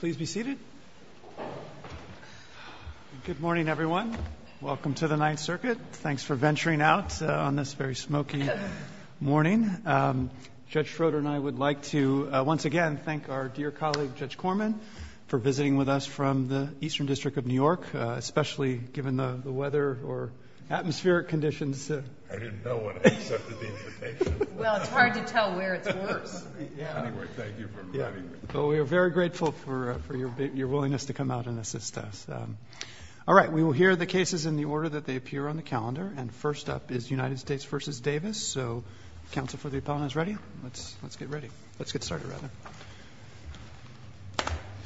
Please be seated. Good morning everyone. Welcome to the Ninth Circuit. Thanks for venturing out on this very smoky morning. Judge Schroeder and I would like to once again thank our dear colleague Judge Corman for visiting with us from the Eastern District of New York, especially given the weather or atmospheric conditions. I didn't know when I accepted the invitation. Well, it's hard to tell where it's worse. But we are very grateful for your willingness to come out and assist us. All right, we will hear the cases in the order that they appear on the calendar and first up is United States v. Davis. So, counsel for the opponents, ready? Let's get ready. Let's get started.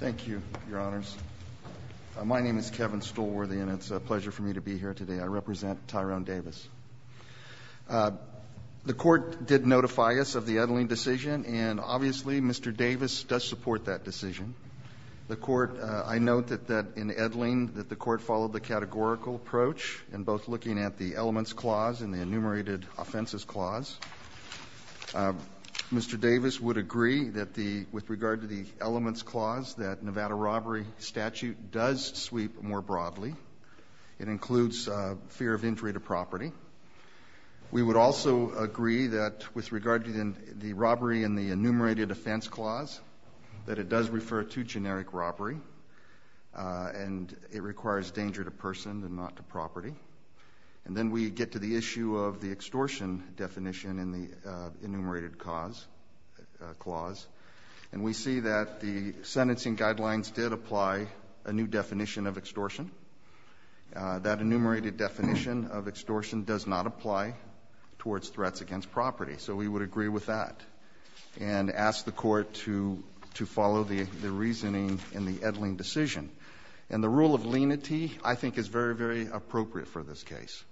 Thank you, Your Honors. My name is Kevin Stolworthy and it's a pleasure for me to be here today. I represent Tyrone Davis. The Court did notify us of the Edling decision and obviously Mr. Davis does support that decision. The Court, I note that in Edling that the Court followed the categorical approach in both looking at the Elements Clause and the Enumerated Offenses Clause. Mr. Davis would agree that the, with regard to the Elements Clause, that Nevada robbery statute does sweep more broadly. It includes fear of injury to property. We would also agree that with regard to the robbery in the Enumerated Offense Clause, that it does refer to generic robbery and it requires danger to person and not to property. And then we get to the issue of the extortion definition in the Enumerated Cause Clause. And we see that the sentencing guidelines did apply a new definition of extortion. That enumerated definition of extortion does not apply towards threats against property. So we would agree with that and ask the Court to follow the reasoning in the Edling decision. And the rule of lenity, I think, is very, very appropriate for this case.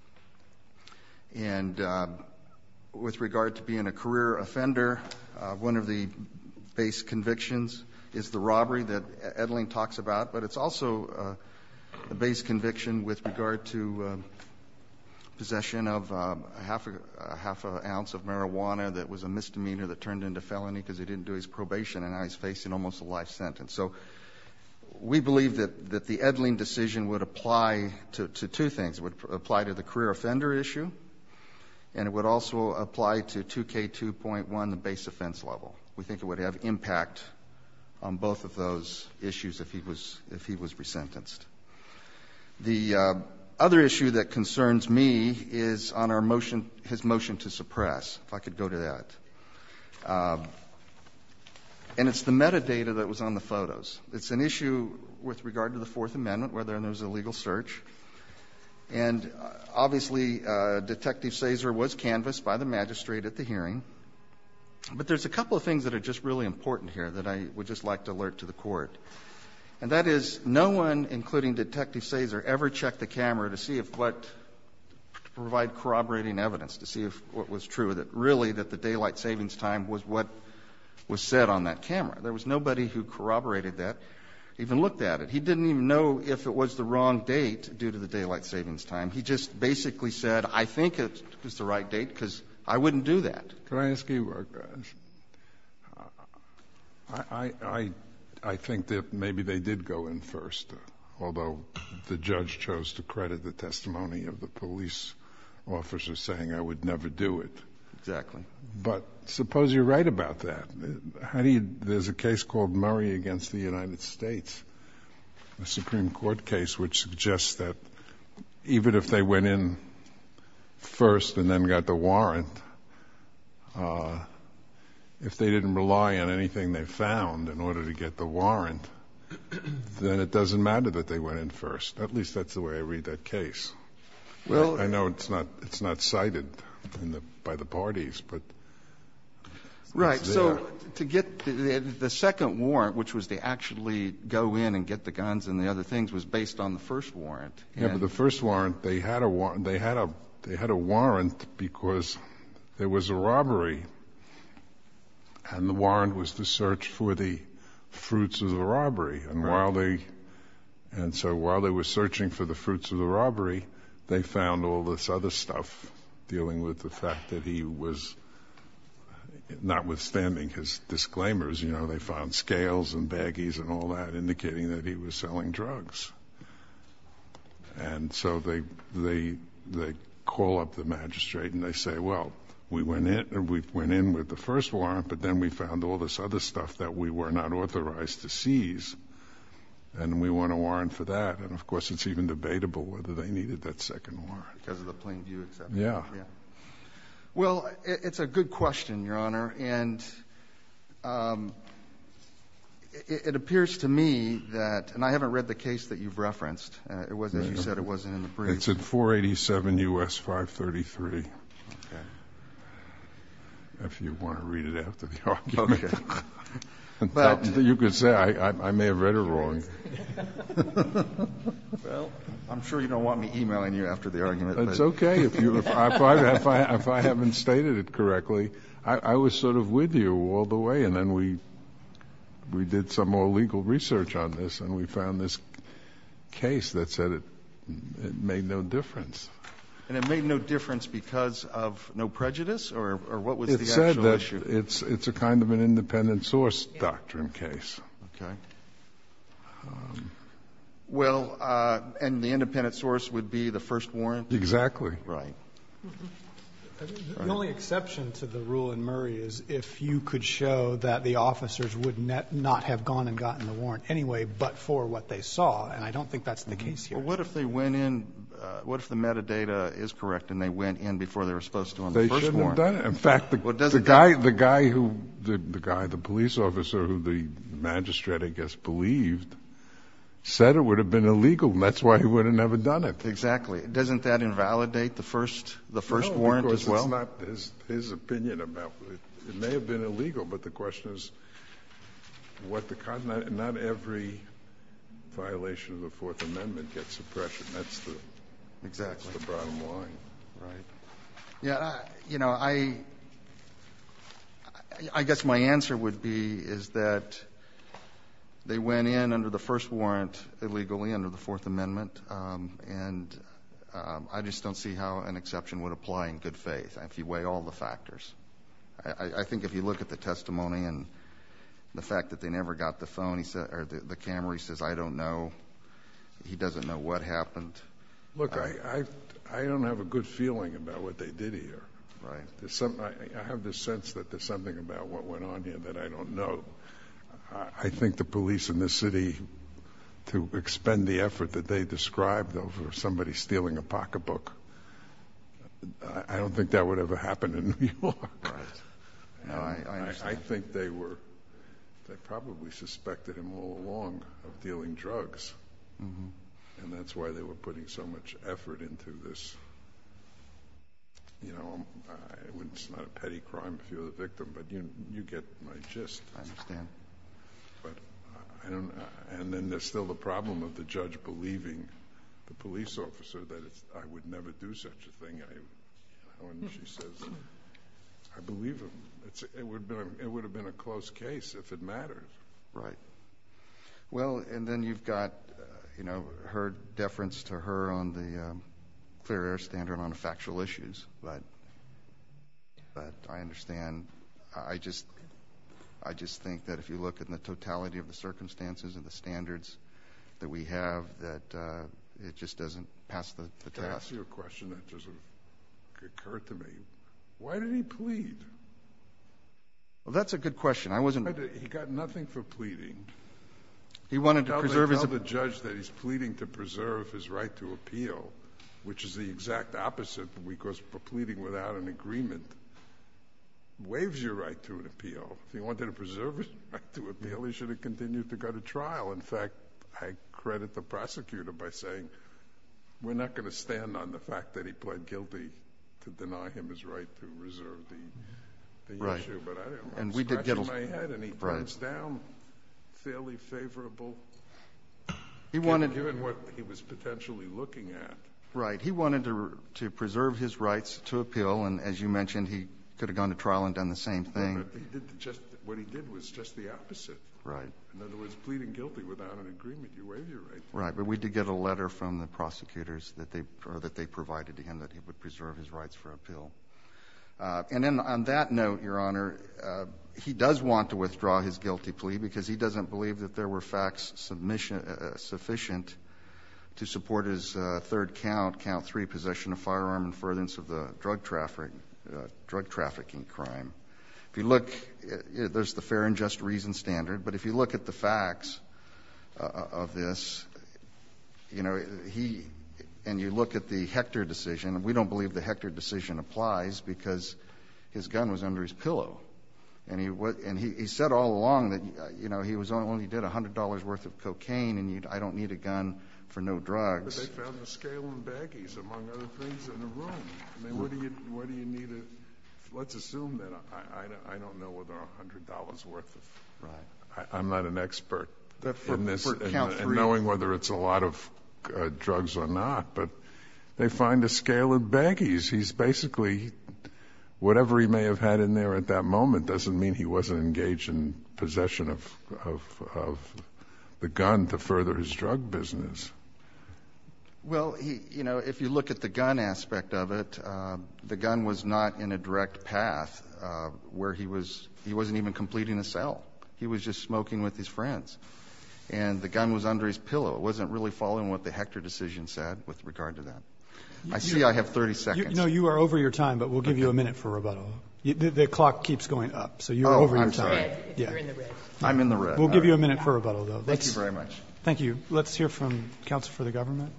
And with regard to being a career offender, one of the base convictions is the robbery that Edling talks about, but it's also the base conviction with regard to possession of a half an ounce of marijuana that was a misdemeanor that turned into felony because he didn't do his probation and now he's facing almost a life sentence. So we believe that the Edling decision would apply to two things. It would apply to the career offender issue, and it would also apply to 2K2.1, the base offense level. We think it would have impact on both of those issues if he was resentenced. The other issue that concerns me is on our motion, his motion to suppress, if I could go to that. And it's the metadata that was on the photos. It's an issue with regard to the Fourth Amendment, whether or not there was a legal search. And obviously, Detective Sazer was canvassed by the magistrate at the hearing. But there's a couple of things that are just really important here that I would just like to alert to the Court. And that is no one, including Detective Sazer, ever checked the camera to see if what to provide corroborating evidence, to see if what was true, that really that the daylight savings time was what was said on that camera. There was nobody who corroborated that, even looked at it. He didn't even know if it was the wrong date due to the daylight savings time. He just basically said, I think it was the right date, because I wouldn't do that. Can I ask you a question? I think that maybe they did go in first, although the judge chose to credit the testimony of the police officer saying, I would never do it. Exactly. But suppose you're right about that. How do you — there's a case called Murray against the United States, a Supreme Court case, which suggests that even if they went in first and then got the warrant, if they didn't rely on anything they found in order to get the warrant, then it doesn't matter that they went in first. At least that's the way I read that case. I know it's not cited by the parties, but it's there. To get the second warrant, which was to actually go in and get the guns and the other things, was based on the first warrant. Yes, but the first warrant, they had a warrant because there was a robbery, and the warrant was to search for the fruits of the robbery. And while they — and so while they were searching for the fruits of the robbery, they found all this other stuff dealing with the fact that he was — notwithstanding his disclaimers, you know, they found scales and baggies and all that indicating that he was selling drugs. And so they call up the magistrate and they say, well, we went in with the first warrant, but then we found all this other stuff that we were not authorized to seize, and we want a warrant for that. And of course, it's even debatable whether they needed that second warrant. Because of the plain view, except — Yeah. Yeah. Well, it's a good question, Your Honor. And it appears to me that — and I haven't read the case that you've referenced. It was, as you said, it wasn't in the brief. It's at 487 U.S. 533, if you want to read it after the argument. Okay. In fact, you could say I may have read it wrong. Well, I'm sure you don't want me emailing you after the argument. It's okay. If I haven't stated it correctly, I was sort of with you all the way. And then we did some more legal research on this, and we found this case that said it made no difference. And it made no difference because of no prejudice? Or what was the actual issue? It said that it's a kind of an independent source doctrine case. Okay. Well, and the independent source would be the first warrant? Exactly. Right. The only exception to the rule in Murray is if you could show that the officers would not have gone and gotten the warrant anyway but for what they saw. And I don't think that's the case here. Well, what if they went in — what if the metadata is correct and they went in before they were supposed to on the first warrant? They shouldn't have done it. In fact, the guy — the guy who — the guy, the police officer who the magistrate, I guess, believed said it would have been illegal, and that's why he would have never done it. Exactly. Doesn't that invalidate the first — the first warrant as well? No, because it's not his opinion about — it may have been illegal, but the question is what the — not every violation of the Fourth Amendment gets suppression. That's the — Exactly. That's the bottom line. Right. Yeah. You know, I — I guess my answer would be is that they went in under the first warrant illegally, under the Fourth Amendment, and I just don't see how an exception would apply in good faith if you weigh all the factors. I think if you look at the testimony and the fact that they never got the phone, he said — or the camera, he says, I don't know. He doesn't know what happened. Look, I — I don't have a good feeling about what they did here. Right. There's some — I have this sense that there's something about what went on here that I don't know. I think the police in the city, to expend the effort that they described over somebody stealing a pocketbook, I don't think that would ever happen in New York. Right. No, I understand. I think they were — they probably suspected him all along of dealing drugs, and that's why they were putting so much effort into this. You know, it's not a petty crime if you're — you get my gist. I understand. But I don't — and then there's still the problem of the judge believing the police officer that it's — I would never do such a thing. I — when she says — I believe him. It's — it would have been a close case if it matters. Right. Well, and then you've got, you know, her deference to her on the clear air standard on factual issues. But I understand. I just — I just think that if you look at the totality of the circumstances and the standards that we have, that it just doesn't pass the test. Let me ask you a question that just sort of occurred to me. Why did he plead? Well, that's a good question. I wasn't — Why did — he got nothing for pleading. He wanted to preserve his — The opposite, because pleading without an agreement waives your right to an appeal. If he wanted to preserve his right to appeal, he should have continued to go to trial. In fact, I credit the prosecutor by saying, we're not going to stand on the fact that he pled guilty to deny him his right to reserve the issue. Right. But I don't know. And we did get a — I'm scratching my head, and he turns down fairly favorable — He wanted — Given what he was potentially looking at. Right. He wanted to preserve his rights to appeal. And as you mentioned, he could have gone to trial and done the same thing. But he did just — what he did was just the opposite. Right. In other words, pleading guilty without an agreement, you waive your right to appeal. Right. But we did get a letter from the prosecutors that they — or that they provided to him that he would preserve his rights for appeal. And then on that note, Your Honor, he does want to withdraw his guilty plea because he possession of firearm and furtherance of the drug trafficking crime. If you look, there's the fair and just reason standard. But if you look at the facts of this, you know, he — and you look at the Hector decision, and we don't believe the Hector decision applies because his gun was under his pillow. And he said all along that, you know, he only did $100 worth of cocaine, and I don't need a gun for no drugs. But they found a scale in baggies, among other things, in the room. I mean, where do you need a — let's assume that — I don't know whether $100 worth of — Right. I'm not an expert in this — For count three. — in knowing whether it's a lot of drugs or not. But they find a scale in baggies. He's basically — whatever he may have had in there at that moment doesn't mean he wasn't engaged in possession of the gun to further his drug business. Well, he — you know, if you look at the gun aspect of it, the gun was not in a direct path where he was — he wasn't even completing a cell. He was just smoking with his friends. And the gun was under his pillow. It wasn't really following what the Hector decision said with regard to that. I see I have 30 seconds. No, you are over your time, but we'll give you a minute for rebuttal. The clock keeps going up, so you're over your time. Oh, I'm sorry. I'm in the red. We'll give you a minute for rebuttal, though. Thank you very much. Thank you. Let's hear from counsel for the government.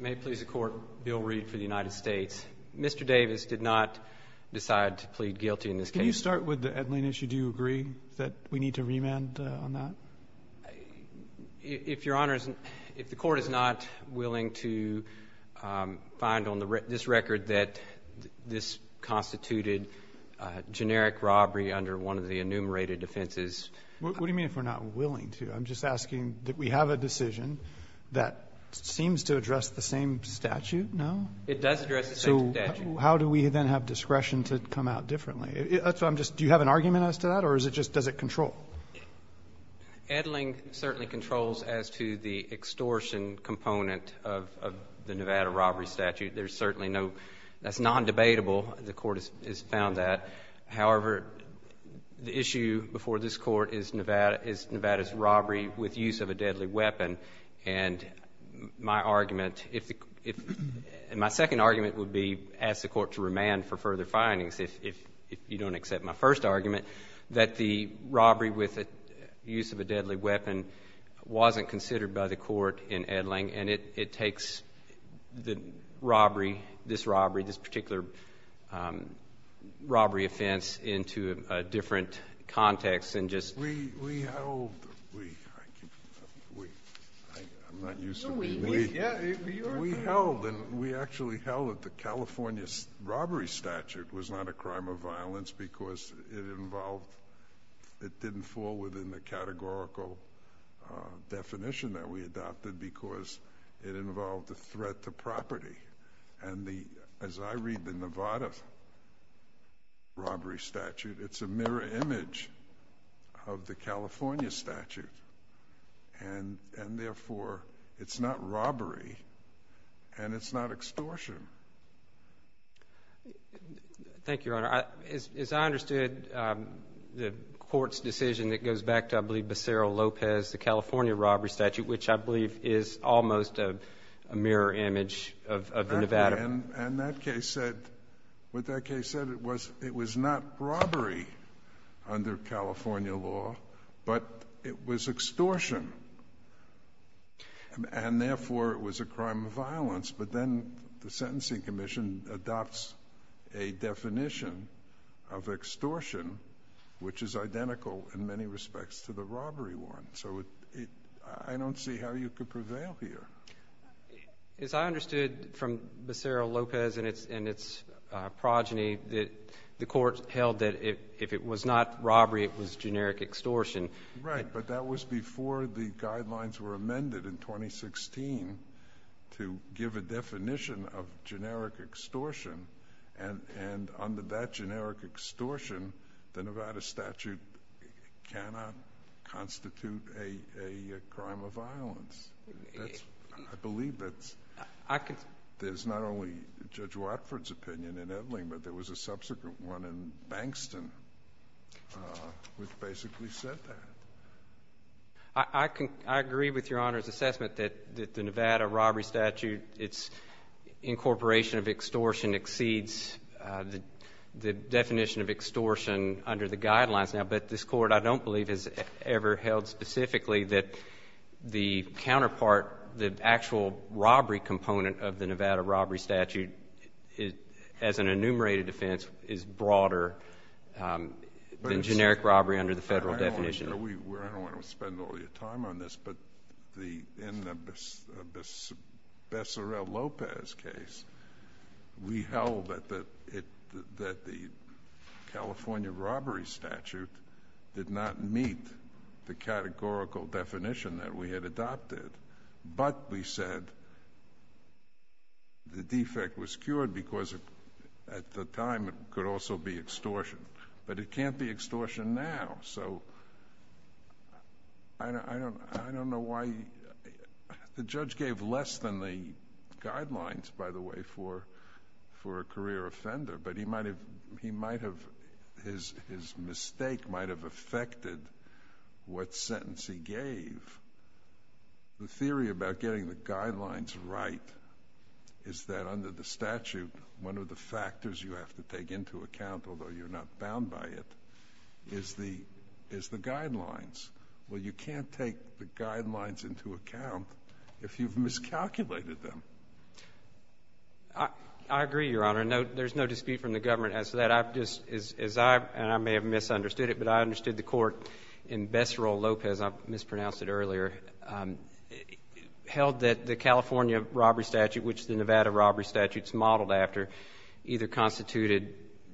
May it please the Court, Bill Reed for the United States. Mr. Davis did not decide to plead guilty in this case. When you start with the Edlin issue, do you agree that we need to remand on that? If Your Honor is — if the Court is not willing to find on this record that this constituted generic robbery under one of the enumerated offenses — What do you mean if we're not willing to? I'm just asking that we have a decision that seems to address the same statute, no? It does address the same statute. So how do we then have discretion to come out differently? That's what I'm just — do you have an argument as to that, or is it just — does it control? Edlin certainly controls as to the extortion component of the Nevada robbery statute. There's certainly no — that's non-debatable. The Court has found that. However, the issue before this Court is Nevada's robbery with use of a deadly weapon. And my argument, if the — my second argument would be ask the Court to remand for further findings, if you don't accept my first argument, that the robbery with use of a deadly weapon wasn't considered by the Court in Edlin, and it takes the robbery, this robbery, this particular robbery offense into a different context than just — We held — we — I'm not used to — No, we — We held, and we actually held that the California robbery statute was not a crime of violence because it involved — it didn't fall within the categorical definition that we adopted because it involved a threat to property. And the — as I read the Nevada robbery statute, it's a mirror image of the California statute, and, therefore, it's not robbery and it's not extortion. Thank you, Your Honor. As I understood, the Court's decision that goes back to, I believe, Becerra-Lopez, the California robbery statute, which I believe is almost a mirror image of the Nevada — it was extortion, and, therefore, it was a crime of violence. But then the Sentencing Commission adopts a definition of extortion, which is identical in many respects to the robbery one. So it — I don't see how you could prevail here. As I understood from Becerra-Lopez and its progeny, the Court held that if it was not robbery, it was generic extortion. Right. But that was before the guidelines were amended in 2016 to give a definition of generic extortion. And under that generic extortion, the Nevada statute cannot constitute a crime of violence. That's — I believe that's — I could — There's not only Judge Watford's opinion in Edling, but there was a subsequent one which basically said that. I agree with Your Honor's assessment that the Nevada robbery statute, its incorporation of extortion exceeds the definition of extortion under the guidelines now. But this Court, I don't believe, has ever held specifically that the counterpart, the actual robbery component of the Nevada robbery statute, as an enumerated offense, is broader than generic robbery under the Federal definition. I don't want to spend all your time on this, but in the Becerra-Lopez case, we held that the California robbery statute did not meet the categorical definition that we had be extortion. But it can't be extortion now. So I don't know why — the judge gave less than the guidelines, by the way, for a career offender, but he might have — his mistake might have affected what sentence he gave. The theory about getting the guidelines right is that under the statute, one of the factors you have to take into account, although you're not bound by it, is the guidelines. Well, you can't take the guidelines into account if you've miscalculated them. I agree, Your Honor. There's no dispute from the government as to that. I just — as I — and I may have misunderstood it, but I understood the Court in Becerra-Lopez — I mispronounced it earlier — held that the California robbery statute, which the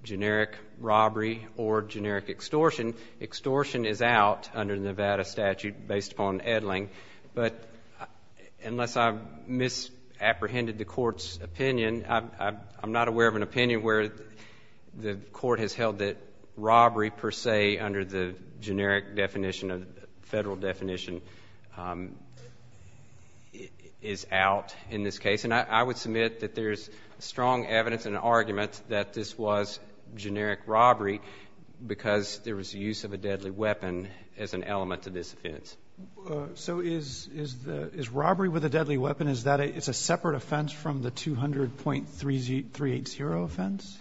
generic robbery or generic extortion, extortion is out under the Nevada statute based upon Edling. But unless I've misapprehended the Court's opinion, I'm not aware of an opinion where the Court has held that robbery, per se, under the generic definition, the Federal definition, is out in this case. And I would submit that there's strong evidence and argument that this was generic robbery because there was use of a deadly weapon as an element to this offense. So is the — is robbery with a deadly weapon, is that a — it's a separate offense from the 200.380 offense?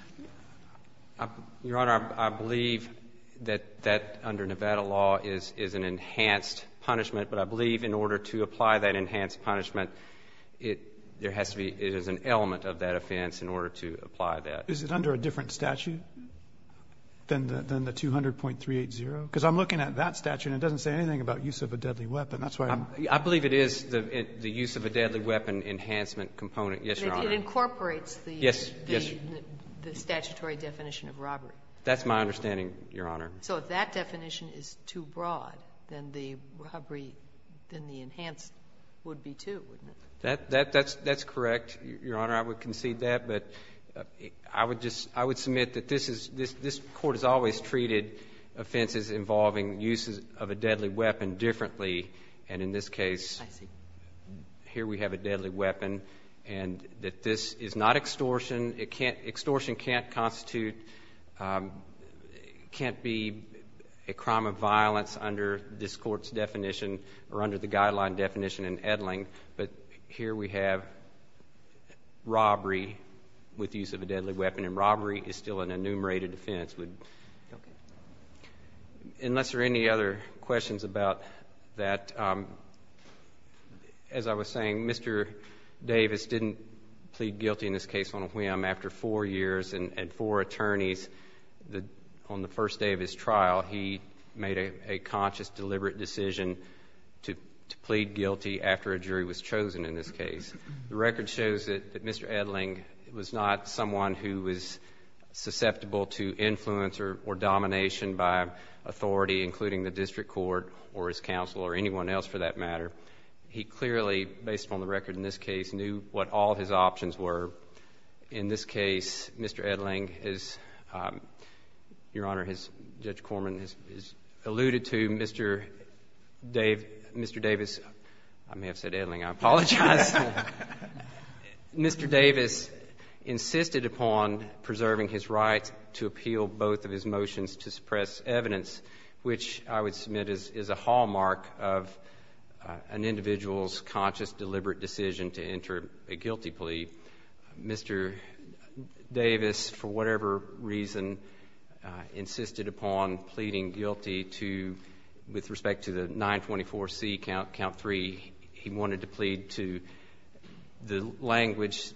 Your Honor, I believe that that, under Nevada law, is an enhanced punishment. But I believe in order to apply that enhanced punishment, it — there has to be — it is an element of that offense in order to apply that. Is it under a different statute than the 200.380? Because I'm looking at that statute, and it doesn't say anything about use of a deadly weapon. That's why I'm — I believe it is the use of a deadly weapon enhancement component. Yes, Your Honor. It incorporates the — The statutory definition of robbery. That's my understanding, Your Honor. So if that definition is too broad, then the robbery — then the enhanced would be, too, wouldn't it? That's correct, Your Honor. I would concede that. But I would just — I would submit that this is — this Court has always treated offenses involving uses of a deadly weapon differently. And in this case — I see. Here we have a deadly weapon. And that this is not extortion. It can't — extortion can't constitute — can't be a crime of violence under this Court's definition or under the guideline definition in Edling. But here we have robbery with use of a deadly weapon. And robbery is still an enumerated offense with — Okay. Unless there are any other questions about that, as I was saying, Mr. Davis didn't plead guilty in this case on a whim. After four years and four attorneys, on the first day of his trial, he made a conscious, deliberate decision to plead guilty after a jury was chosen in this case. The record shows that Mr. Edling was not someone who was susceptible to influence or domination by authority, including the district court or his counsel or anyone else, for that matter. He clearly, based upon the record in this case, knew what all his options were. In this case, Mr. Edling is — Your Honor, Judge Corman has alluded to Mr. Davis — I may have said Edling. I apologize. Mr. Davis insisted upon preserving his right to appeal both of his motions to suppress evidence, which I would submit is a hallmark of an individual's conscious, deliberate decision to enter a guilty plea. Mr. Davis, for whatever reason, insisted upon pleading guilty to — with respect to the 924C Count III. He wanted to plead to the language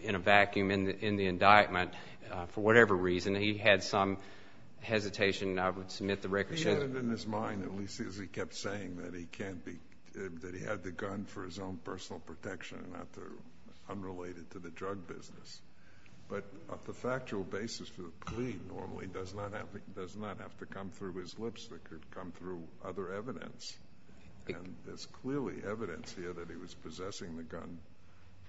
in a vacuum in the indictment. But for whatever reason, he had some hesitation. I would submit the record shows — He had it in his mind, at least, as he kept saying, that he can't be — that he had the gun for his own personal protection and not unrelated to the drug business. But the factual basis for the plea normally does not have to come through his lips. It could come through other evidence. And there's clearly evidence here that he was possessing the gun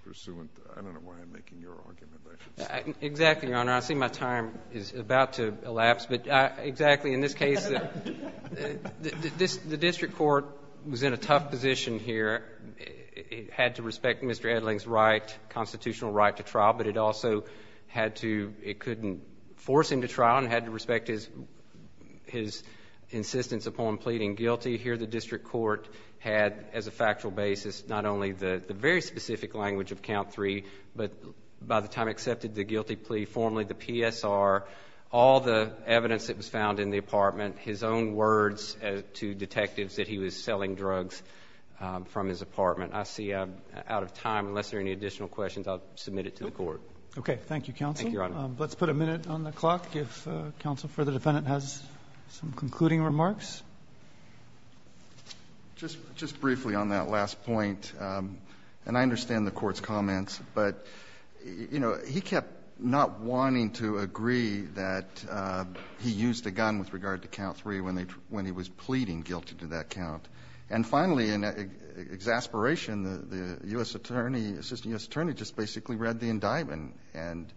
pursuant to — I don't know why I'm making your argument, but I should say. Exactly, Your Honor. I see my time is about to elapse. But exactly. In this case, the district court was in a tough position here. It had to respect Mr. Edling's right, constitutional right, to trial. But it also had to — it couldn't force him to trial and had to respect his insistence upon pleading guilty. Here the district court had, as a factual basis, not only the very specific language of count three, but by the time accepted the guilty plea formally, the PSR, all the evidence that was found in the apartment, his own words to detectives that he was selling drugs from his apartment. I see I'm out of time. Unless there are any additional questions, I'll submit it to the court. Okay. Thank you, counsel. Thank you, Your Honor. Let's put a minute on the clock if counsel for the defendant has some concluding remarks. Just briefly on that last point, and I understand the Court's comments, but, you know, he kept not wanting to agree that he used a gun with regard to count three when he was pleading guilty to that count. And finally, in exasperation, the U.S. attorney, assistant U.S. attorney, just basically read the indictment. And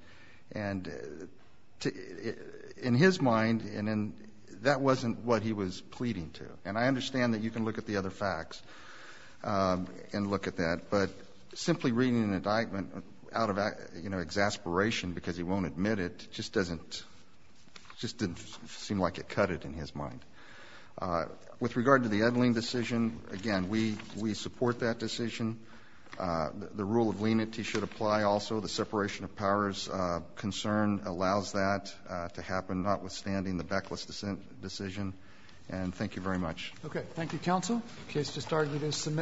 in his mind, that wasn't what he was pleading to. And I understand that you can look at the other facts and look at that, but simply reading an indictment out of, you know, exasperation because he won't admit it just doesn't seem like it cut it in his mind. With regard to the Edling decision, again, we support that decision. The rule of lenity should apply also. The separation of powers concern allows that to happen, notwithstanding the Beckless decision. And thank you very much. Okay. Thank you, counsel. The case just started. It is submitted.